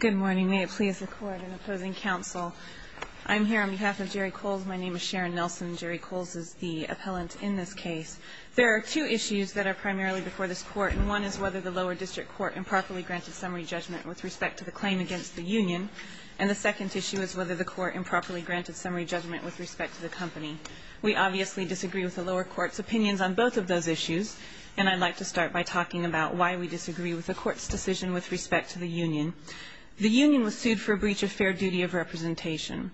Good morning. May it please the Court in opposing counsel, I'm here on behalf of Jerry Coles. My name is Sharon Nelson. Jerry Coles is the appellant in this case. There are two issues that are primarily before this Court, and one is whether the lower district court improperly granted summary judgment with respect to the claim against the union, and the second issue is whether the court improperly granted summary judgment with respect to the company. We obviously disagree with the lower court's opinions on both of those issues, and I'd like to start by talking about why we disagree with the court's decision with respect to the union. The union was sued for a breach of fair duty of representation,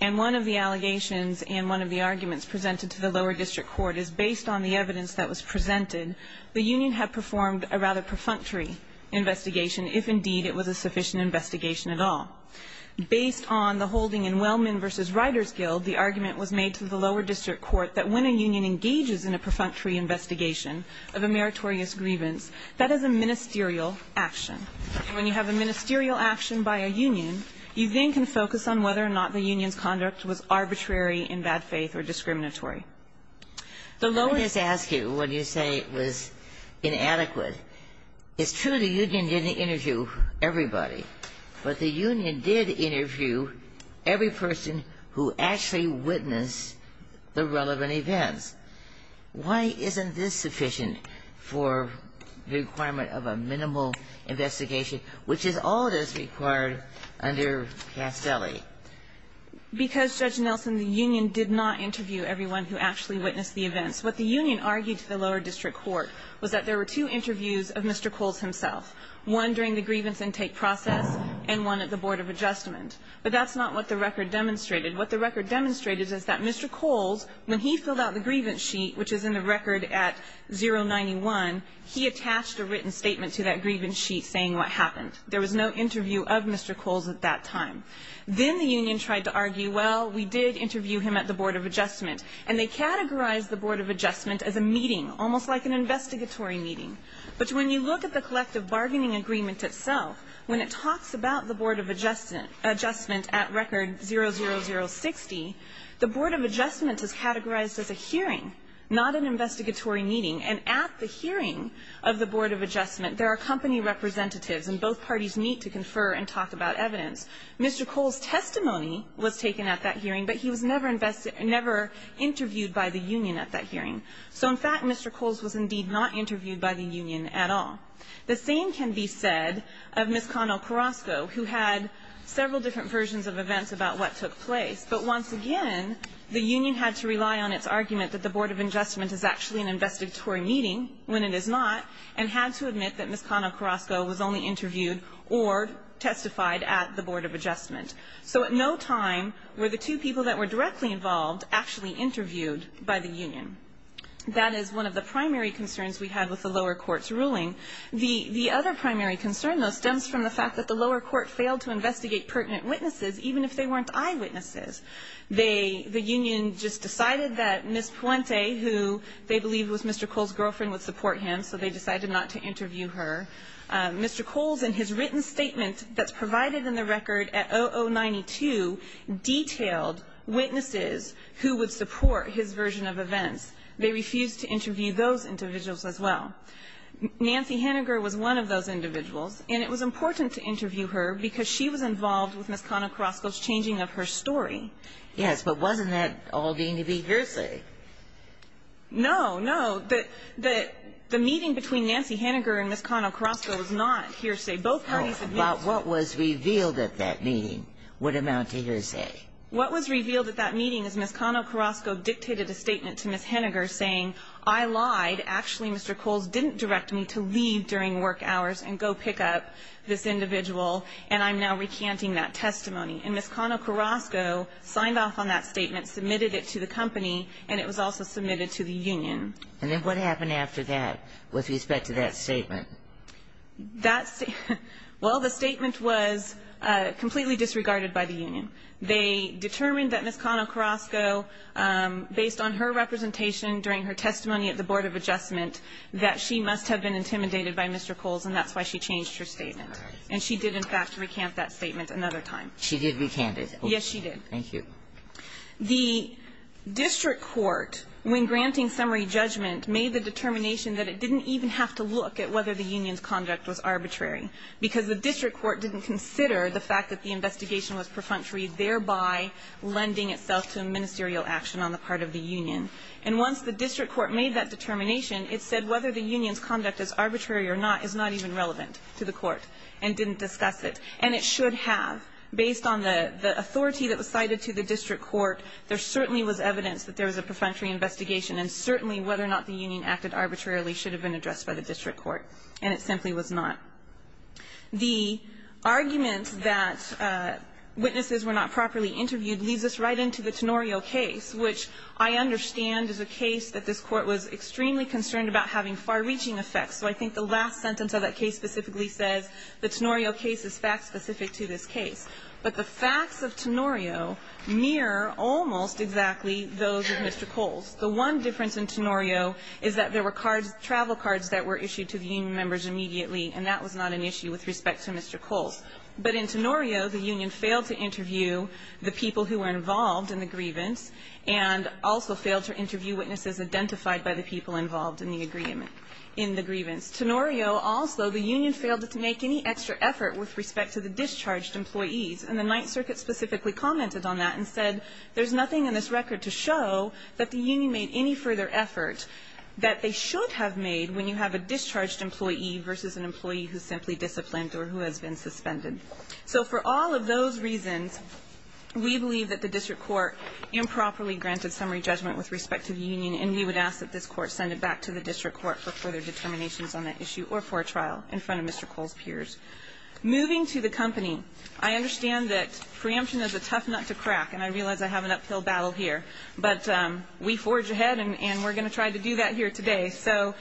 and one of the allegations and one of the arguments presented to the lower district court is based on the evidence that was presented, the union had performed a rather perfunctory investigation, if indeed it was a sufficient investigation at all. Based on the holding in Wellman v. Riders Guild, the argument was made to the lower district court that when a union engages in a perfunctory investigation of a meritorious grievance, that is a ministerial action. When you have a ministerial action by a union, you then can focus on whether or not the union's conduct was arbitrary, in bad faith, or discriminatory. The lower --" Ginsburg. I'm going to ask you what you say was inadequate. It's true the union didn't interview everybody, but the union did interview every person who actually witnessed the relevant events. Why isn't this sufficient for the requirement of a minimal investigation, which is all that is required under Castelli? Because, Judge Nelson, the union did not interview everyone who actually witnessed the events. What the union argued to the lower district court was that there were two interviews of Mr. Coles himself, one during the grievance intake process and one at the Board of Adjustment. But that's not what the record demonstrated. What the record demonstrated is that Mr. Coles, when he filled out the grievance sheet, which is in the record at 091, he attached a written statement to that grievance sheet saying what happened. There was no interview of Mr. Coles at that time. Then the union tried to argue, well, we did interview him at the Board of Adjustment, and they categorized the Board of Adjustment as a meeting, almost like an investigatory meeting. But when you look at the collective bargaining agreement itself, when it talks about the Board of Adjustment at record 00060, the Board of Adjustment is categorized as a hearing, not an investigatory meeting. And at the hearing of the Board of Adjustment, there are company representatives and both parties meet to confer and talk about evidence. Mr. Coles' testimony was taken at that hearing, but he was never interviewed by the union at that hearing. So in fact, Mr. Coles was indeed not interviewed by the union at all. The same can be said of Ms. Connell-Carrasco, who had several different versions of events about what took place. But once again, the union had to rely on its argument that the Board of Adjustment is actually an investigatory meeting when it is not, and had to admit that Ms. Connell-Carrasco was only interviewed or testified at the Board of Adjustment. So at no time were the two people that were directly involved actually interviewed by the union. That is one of the primary concerns we had with the lower court's ruling. The other primary concern, though, stems from the fact that the lower court failed to investigate pertinent witnesses, even if they weren't eyewitnesses. The union just decided that Ms. Puente, who they believed was Mr. Coles' girlfriend, would support him, so they decided not to interview her. Mr. Coles, in his written statement that's provided in the record at 0092, detailed witnesses who would support his version of events. They refused to interview those individuals as well. Nancy Hanegar was one of those individuals, and it was important to interview her because she was involved with Ms. Connell-Carrasco's changing of her story. Yes, but wasn't that all deemed to be hearsay? No, no. The meeting between Nancy Hanegar and Ms. Connell-Carrasco was not hearsay. But what was revealed at that meeting would amount to hearsay. What was revealed at that meeting is Ms. Connell-Carrasco dictated a statement to Ms. Hanegar saying, I lied. Actually, Mr. Coles didn't direct me to leave during work hours and go pick up this individual, and I'm now recanting that testimony. And Ms. Connell-Carrasco signed off on that statement, submitted it to the company, and it was also submitted to the union. And then what happened after that with respect to that statement? Well, the statement was completely disregarded by the union. They determined that Ms. Connell-Carrasco, based on her representation during her testimony at the Board of Adjustment, that she must have been intimidated by Mr. Coles, and that's why she changed her statement. And she did, in fact, recant that statement another time. She did recant it. Yes, she did. Thank you. The district court, when granting summary judgment, made the determination that it didn't even have to look at whether the union's conduct was arbitrary because the district court didn't consider the fact that the investigation was perfunctory, thereby lending itself to a ministerial action on the part of the union. And once the district court made that determination, it said whether the union's conduct is arbitrary or not is not even relevant to the court and didn't discuss it. And it should have. Based on the authority that was cited to the district court, there certainly was evidence that there was a perfunctory investigation, and certainly whether or not the union acted arbitrarily should have been addressed by the district court. And it simply was not. The argument that witnesses were not properly interviewed leads us right into the Tenorio case, which I understand is a case that this Court was extremely concerned about having far-reaching effects. So I think the last sentence of that case specifically says the Tenorio case is fact-specific to this case. But the facts of Tenorio mirror almost exactly those of Mr. Coles. The one difference in Tenorio is that there were cards, travel cards that were issued to the union members immediately, and that was not an issue with respect to Mr. Coles. But in Tenorio, the union failed to interview the people who were involved in the grievance and also failed to interview witnesses identified by the people involved in the agreement, in the grievance. Tenorio also, the union failed to make any extra effort with respect to the discharged employees. And the Ninth Circuit specifically commented on that and said there's nothing in this record to show that the union made any further effort that they should have made when you have a discharged employee versus an employee who's simply disciplined or who has been suspended. So for all of those reasons, we believe that the district court improperly granted summary judgment with respect to the union, and we would ask that this court send it back to the district court for further determinations on that issue or for a trial in front of Mr. Coles' peers. Moving to the company, I understand that preemption is a tough nut to crack, and I realize I have an uphill battle here, but we forge ahead and we're going to try to do that here today. So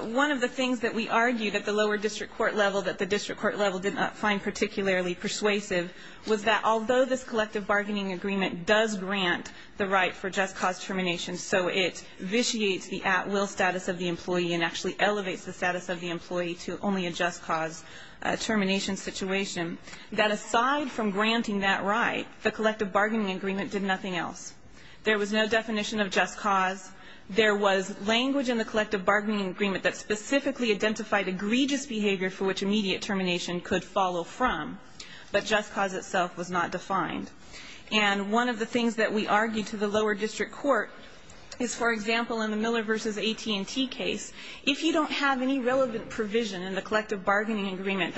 one of the things that we argued at the lower district court level that the district court level did not find particularly persuasive was that although this collective bargaining agreement does grant the right for just cause termination, so it vitiates the at-will status of the employee and actually elevates the status of the employee to only a just cause termination situation, that aside from granting that right, the collective bargaining agreement did nothing else. There was no definition of just cause. There was language in the collective bargaining agreement that specifically identified egregious behavior for which immediate termination could follow from, but just cause itself was not defined. And one of the things that we argued to the lower district court is, for example, in the Miller v. AT&T case, if you don't have any relevant provision in the collective bargaining agreement,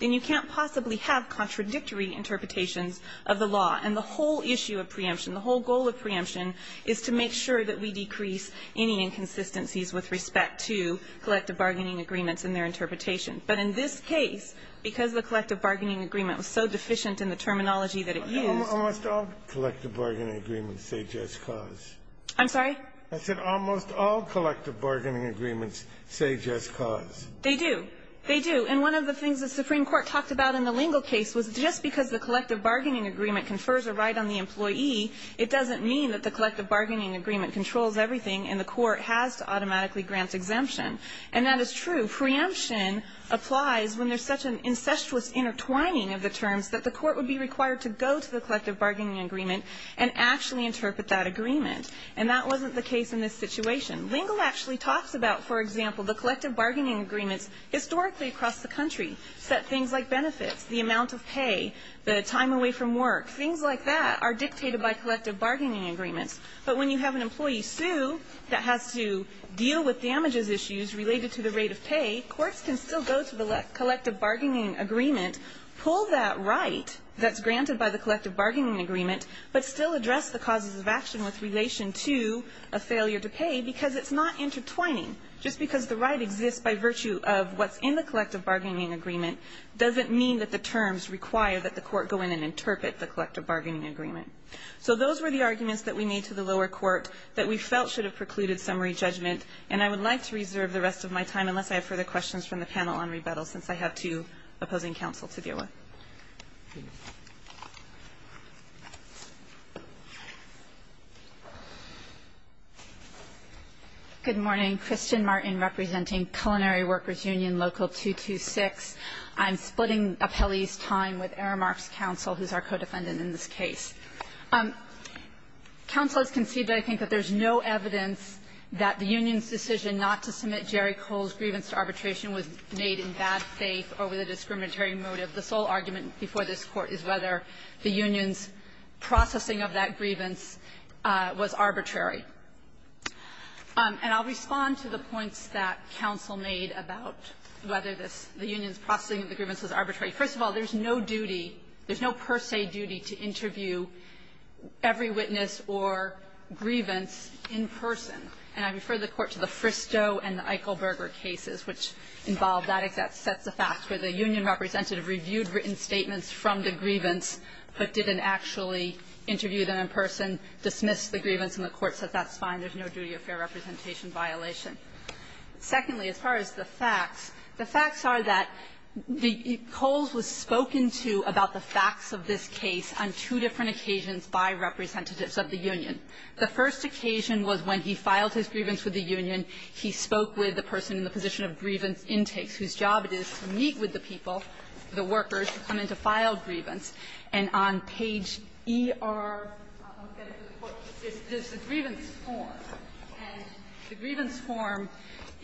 you can't possibly have contradictory interpretations of the law. And the whole issue of preemption, the whole goal of preemption, is to make sure that we decrease any inconsistencies with respect to collective bargaining agreements and their interpretation. But in this case, because the collective bargaining agreement was so deficient in the terminology that it used --" Scalia. Almost all collective bargaining agreements say just cause. I'm sorry? I said almost all collective bargaining agreements say just cause. They do. They do. And one of the things the Supreme Court talked about in the Lingle case was just because the collective bargaining agreement confers a right on the employee, it doesn't mean that the collective bargaining agreement controls everything and the court has to automatically grant exemption. And that is true. Preemption applies when there's such an incestuous intertwining of the terms that the court would be required to go to the collective bargaining agreement and actually interpret that agreement. And that wasn't the case in this situation. Lingle actually talks about, for example, the collective bargaining agreements historically across the country set things like benefits, the amount of pay, the time away from work. Things like that are dictated by collective bargaining agreements. But when you have an employee sue that has to deal with damages issues related to the rate of pay, courts can still go to the collective bargaining agreement, pull that right that's granted by the collective bargaining agreement, but still address the causes of action with relation to a failure to pay because it's not collective bargaining agreement doesn't mean that the terms require that the court go in and interpret the collective bargaining agreement. So those were the arguments that we made to the lower court that we felt should have precluded summary judgment, and I would like to reserve the rest of my time unless I have further questions from the panel on rebuttal since I have two opposing counsel to deal with. Please. Good morning. Kristen Martin representing Culinary Workers Union Local 226. I'm splitting appellees' time with Aramark's counsel, who's our co-defendant in this case. Counsel has conceived, I think, that there's no evidence that the union's decision not to submit Jerry Cole's grievance to arbitration was made in bad faith or with a discriminatory motive. The sole argument before this Court is whether the union's processing of that grievance was arbitrary. And I'll respond to the points that counsel made about whether this union's processing of the grievance was arbitrary. First of all, there's no duty, there's no per se duty to interview every witness or grievance in person. And I refer the Court to the Fristo and the Eichelberger cases, which involve that exact set of facts, where the union representative reviewed written statements from the grievance but didn't actually interview them in person, dismissed the grievance, and the Court said that's fine, there's no duty of fair representation violation. Secondly, as far as the facts, the facts are that the Coles was spoken to about the facts of this case on two different occasions by representatives of the union. The first occasion was when he filed his grievance with the union. He spoke with the person in the position of grievance intakes, whose job it is to meet with the people, the workers, to come in to file grievance. And on page ER, I'll get it to the Court, there's the grievance form. And the grievance form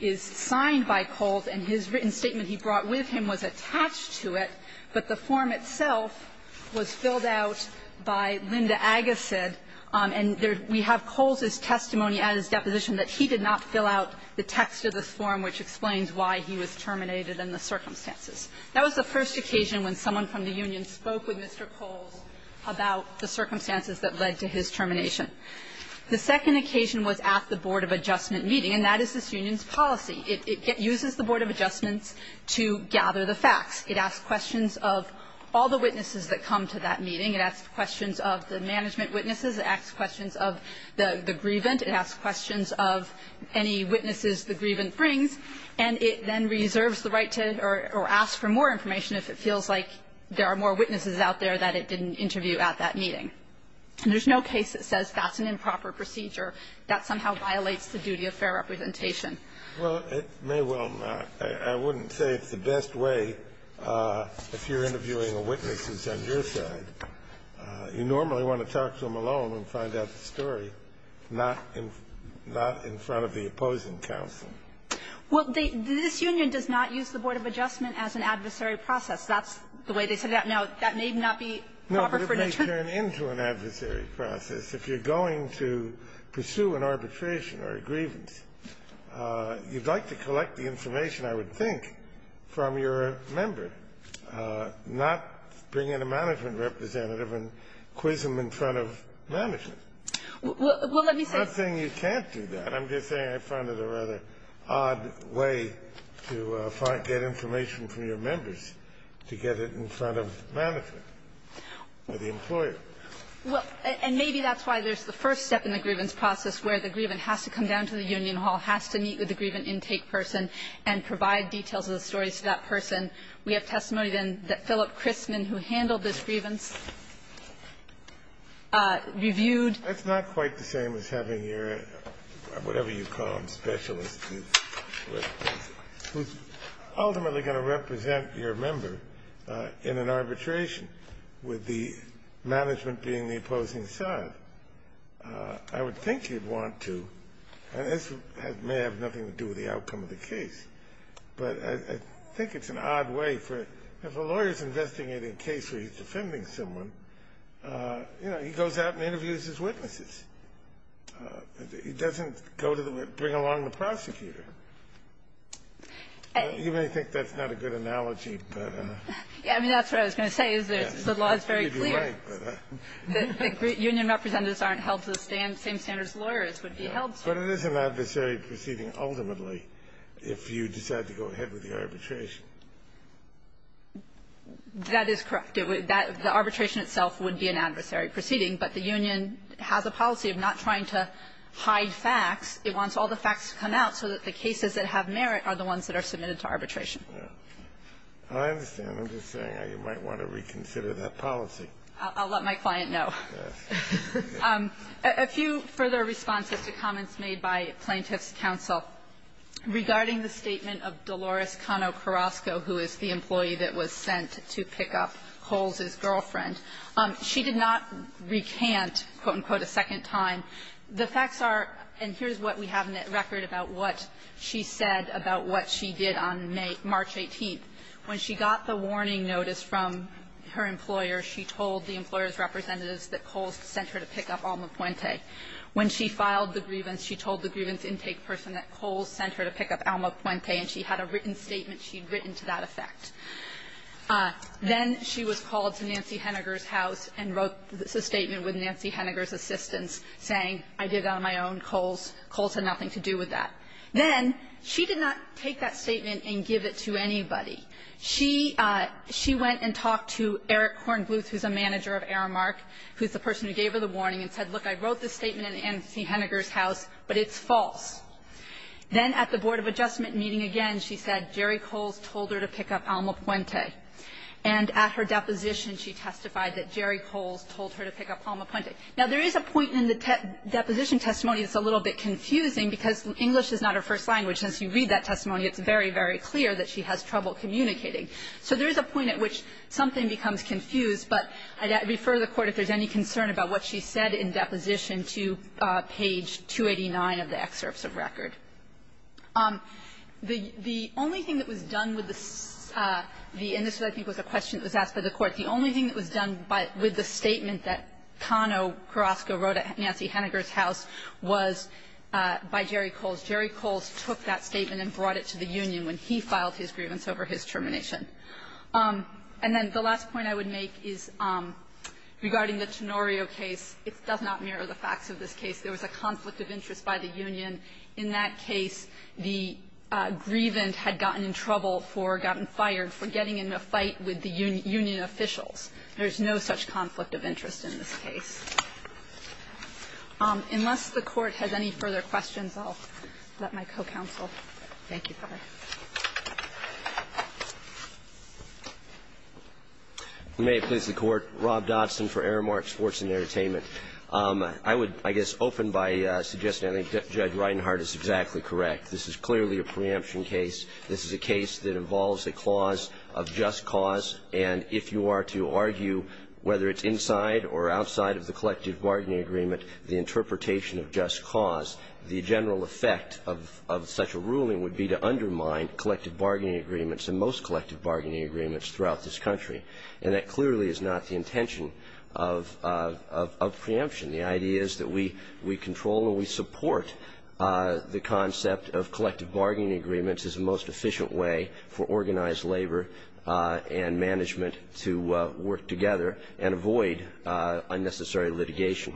is signed by Coles, and his written statement he brought with him was attached to it, but the form itself was filled out by Linda Agassiz. And we have Coles's testimony at his deposition that he did not fill out the text of this form which explains why he was terminated and the circumstances. That was the first occasion when someone from the union spoke with Mr. Coles about the circumstances that led to his termination. The second occasion was at the board of adjustment meeting, and that is this union's policy. It uses the board of adjustments to gather the facts. It asks questions of all the witnesses that come to that meeting. It asks questions of the management witnesses. It asks questions of the grievant. It asks questions of any witnesses the grievant brings. And it then reserves the right to or asks for more information if it feels like there are more witnesses out there that it didn't interview at that meeting. And there's no case that says that's an improper procedure. That somehow violates the duty of fair representation. Well, it may well not. I wouldn't say it's the best way if you're interviewing a witness who's on your side. You normally want to talk to them alone and find out the story, not in front of the opposing counsel. Well, the union does not use the board of adjustment as an adversary process. That's the way they say that. Now, that may not be proper for the truth. No, but it may turn into an adversary process if you're going to pursue an arbitration or a grievance. You'd like to collect the information, I would think, from your member, not bring in a management representative and quiz him in front of management. Well, let me say you can't do that. I'm just saying I find it a rather odd way to get information from your members to get it in front of management or the employer. Well, and maybe that's why there's the first step in the grievance process where the grievant has to come down to the union hall, has to meet with the grievant intake person and provide details of the stories to that person. We have testimony then that Philip Christman, who handled this grievance, reviewed That's not quite the same as having your, whatever you call them, specialist who's ultimately going to represent your member in an arbitration with the management being the opposing side. I would think you'd want to, and this may have nothing to do with the outcome of the case, but I think it's an odd way for, if a lawyer's investigating a case where he's defending someone, you know, he goes out and interviews his witnesses. He doesn't go to the, bring along the prosecutor. You may think that's not a good analogy, but. I mean, that's what I was going to say is the law is very clear. The union representatives aren't held to the same standard as lawyers would be held to. But it is an adversary proceeding ultimately if you decide to go ahead with the arbitration. That is correct. The arbitration itself would be an adversary proceeding, but the union has a policy of not trying to hide facts. It wants all the facts to come out so that the cases that have merit are the ones that are submitted to arbitration. Yeah. I understand. I'm just saying you might want to reconsider that policy. I'll let my client know. Yes. A few further responses to comments made by Plaintiff's counsel regarding the statement of Dolores Cano Carrasco, who is the employee that was sent to pick up Coles's girlfriend. She did not recant, quote, unquote, a second time. The facts are, and here's what we have in that record about what she said about what she did on March 18th. When she got the warning notice from her employer, she told the employer's representatives that Coles sent her to pick up Alma Puente. When she filed the grievance, she told the grievance intake person that Coles sent her to pick up Alma Puente, and she had a written statement she had written to that effect. Then she was called to Nancy Henniger's house and wrote a statement with Nancy Henniger's assistants saying, I did it on my own, Coles had nothing to do with that. Then she did not take that statement and give it to anybody. She went and talked to Eric Korngluth, who's a manager of Aramark, who's the person who gave her the warning and said, look, I wrote this statement in Nancy Henniger's house, but it's false. Then at the board of adjustment meeting again, she said Jerry Coles told her to pick up Alma Puente. And at her deposition, she testified that Jerry Coles told her to pick up Alma Puente. Now, there is a point in the deposition testimony that's a little bit confusing, because English is not her first language. Since you read that testimony, it's very, very clear that she has trouble communicating. So there is a point at which something becomes confused, but I'd refer the Court, if there's any concern about what she said in deposition, to page 289 of the excerpts of record. The only thing that was done with the ---- and this, I think, was a question that was asked by the Court. The only thing that was done by the statement that Cano Carrasco wrote at Nancy Henniger's house was a statement by Jerry Coles. Jerry Coles took that statement and brought it to the union when he filed his grievance over his termination. And then the last point I would make is regarding the Tenorio case, it does not mirror the facts of this case. There was a conflict of interest by the union. In that case, the grievant had gotten in trouble for, gotten fired for getting in a fight with the union officials. There is no such conflict of interest in this case. Unless the Court has any further questions, I'll let my co-counsel. Thank you, Your Honor. Rob Dodson, for Aramark Sports and Entertainment. I would, I guess, open by suggesting that Judge Reinhart is exactly correct. This is clearly a preemption case. This is a case that involves a clause of just cause, and if you are to argue whether it's inside or outside of the collective bargaining agreement, the interpretation of just cause, the general effect of such a ruling would be to undermine collective bargaining agreements and most collective bargaining agreements throughout this country. And that clearly is not the intention of preemption. The idea is that we control and we support the concept of collective bargaining agreements as the most efficient way for organized labor and management to work together and avoid unnecessary litigation.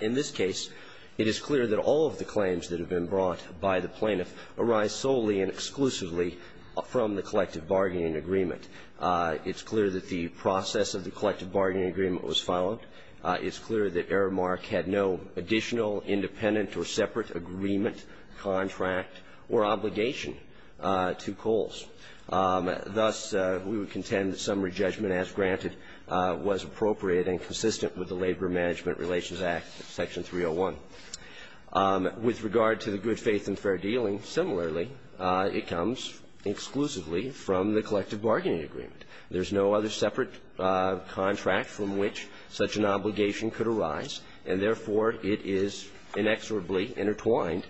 In this case, it is clear that all of the claims that have been brought by the plaintiff arise solely and exclusively from the collective bargaining agreement. It's clear that the process of the collective bargaining agreement was followed. It's clear that Aramark had no additional independent or separate agreement, contract, or obligation to Coles. Thus, we would contend that summary judgment, as granted, was appropriate and consistent with the Labor Management Relations Act, Section 301. With regard to the good faith and fair dealing, similarly, it comes exclusively from the collective bargaining agreement. There's no other separate contract from which such an obligation could arise, and therefore, it is inexorably intertwined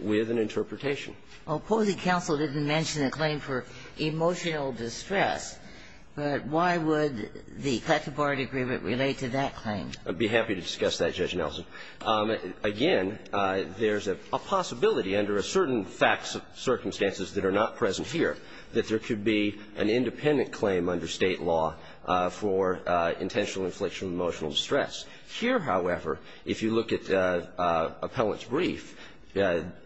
with an interpretation. Well, Posey counsel didn't mention a claim for emotional distress, but why would the collective bargaining agreement relate to that claim? I'd be happy to discuss that, Judge Nelson. Again, there's a possibility under a certain facts of circumstances that are not present here that there could be an independent claim under State law for intentional infliction of emotional distress. Here, however, if you look at Appellant's brief,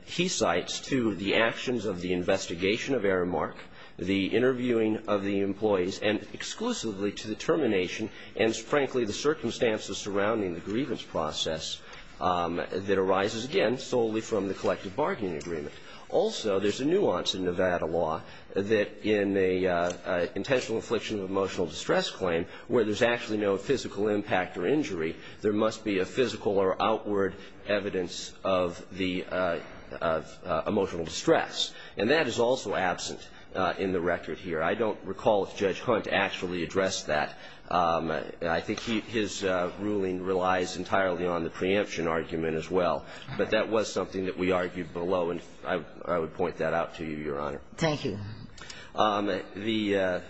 he cites to the actions of the investigation of Aramark, the interviewing of the employees, and exclusively to the termination and, frankly, the circumstances surrounding the grievance process that arises, again, solely from the collective bargaining agreement. Also, there's a nuance in Nevada law that in the intentional infliction of emotional distress claim, where there's actually no physical impact or injury, there must be a physical or outward evidence of the emotional distress, and that is also absent in the record here. I don't recall if Judge Hunt actually addressed that. I think his ruling relies entirely on the preemption argument as well, but that was something that we argued below, and I would point that out to you, Your Honor. Thank you. The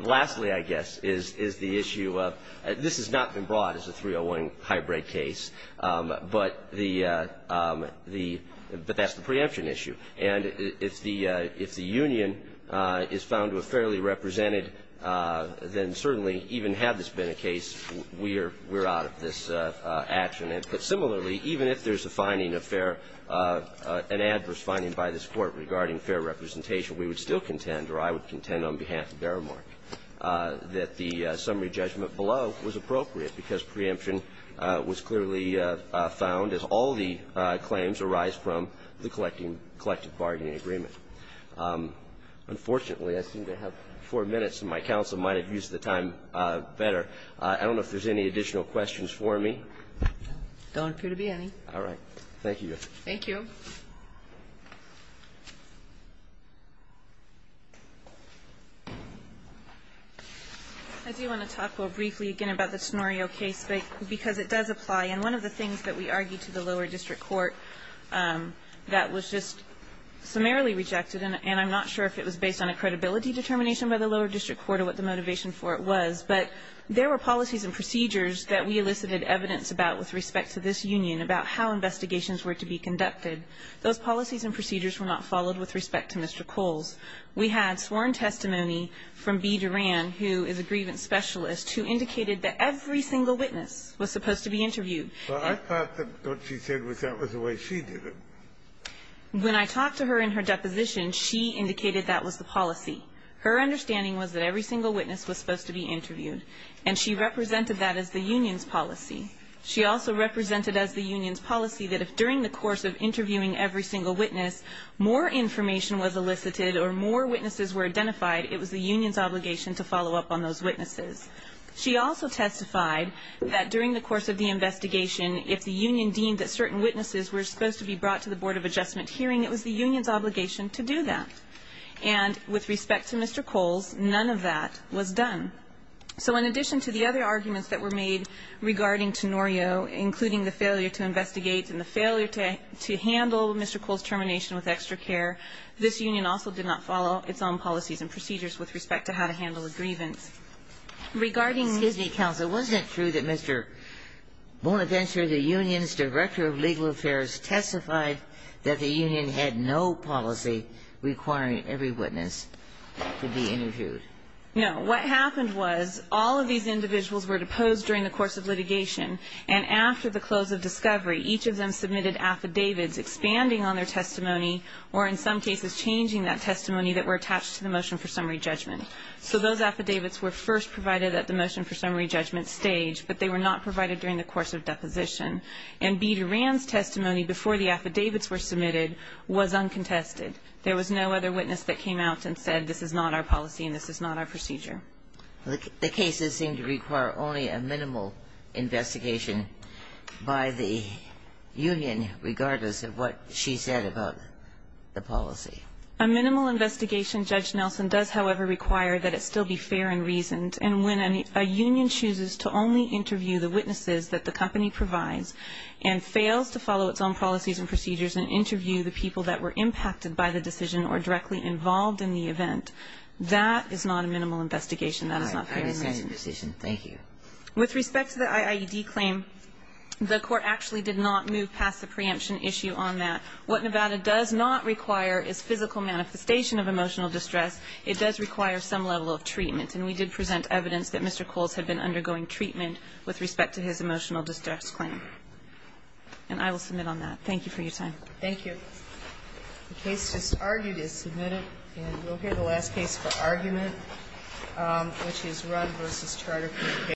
lastly, I guess, is the issue of this has not been brought as a 301 hybrid case, but that's the preemption issue, and if the union is found to have fairly represented, then certainly, even had this been a case, we're out of this action. But similarly, even if there's a finding of fair or an adverse finding by this Court regarding fair representation, we would still contend, or I would contend on behalf of Deremerk, that the summary judgment below was appropriate, because preemption was clearly found, as all the claims arise from, the collective bargaining agreement. Unfortunately, I seem to have four minutes, and my counsel might have used the time better. I don't know if there's any additional questions for me. Don't appear to be any. All right. Thank you. Thank you. I do want to talk more briefly again about the Sonorio case, because it does apply. And one of the things that we argued to the lower district court that was just summarily rejected, and I'm not sure if it was based on a credibility determination by the lower district court or what the motivation for it was, but there were policies and procedures that we elicited evidence about with respect to this union about how investigations were to be conducted. Those policies and procedures were not followed with respect to Mr. Coles. We had sworn testimony from Bea Duran, who is a grievance specialist, who indicated that every single witness was supposed to be interviewed. Well, I thought that what she said was that was the way she did it. When I talked to her in her deposition, she indicated that was the policy. Her understanding was that every single witness was supposed to be interviewed. And she represented that as the union's policy. She also represented as the union's policy that if during the course of interviewing every single witness, more information was elicited or more witnesses were identified, it was the union's obligation to follow up on those witnesses. She also testified that during the course of the investigation, if the union deemed that certain witnesses were supposed to be brought to the Board of Adjustment hearing, it was the union's obligation to do that. And with respect to Mr. Coles, none of that was done. So in addition to the other arguments that were made regarding Tenorio, including the failure to investigate and the failure to handle Mr. Coles' termination with extra care, this union also did not follow its own policies and procedures with respect to how to handle a grievance. Regarding the union's policy, it was not true that Mr. Bonaventure, the union's director of legal affairs, testified that the union had no policy requiring every witness to be interviewed? No. What happened was all of these individuals were deposed during the course of litigation and after the close of discovery, each of them submitted affidavits expanding on their testimony or in some cases changing that testimony that were attached to the motion for summary judgment. So those affidavits were first provided at the motion for summary judgment stage, but they were not provided during the course of deposition. And B. Durand's testimony before the affidavits were submitted was uncontested. There was no other witness that came out and said this is not our policy and this is not our procedure. The cases seem to require only a minimal investigation by the union regardless of what she said about the policy. A minimal investigation, Judge Nelson, does, however, require that it still be fair and reasoned, and when a union chooses to only interview the witnesses that the company provides and fails to follow its own policies and procedures and interview the people that were impacted by the decision or directly involved in the event, that is not a minimal investigation. That is not fair and reasoned. With respect to the IAED claim, the Court actually did not move past the preemption issue on that. What Nevada does not require is physical manifestation of emotional distress. It does require some level of treatment, and we did present evidence that Mr. Coles had been undergoing treatment with respect to his emotional distress claim. And I will submit on that. Thank you for your time. Thank you. The case just argued is submitted, and we'll hear the last case for argument, which is Rund v. Charterfield case.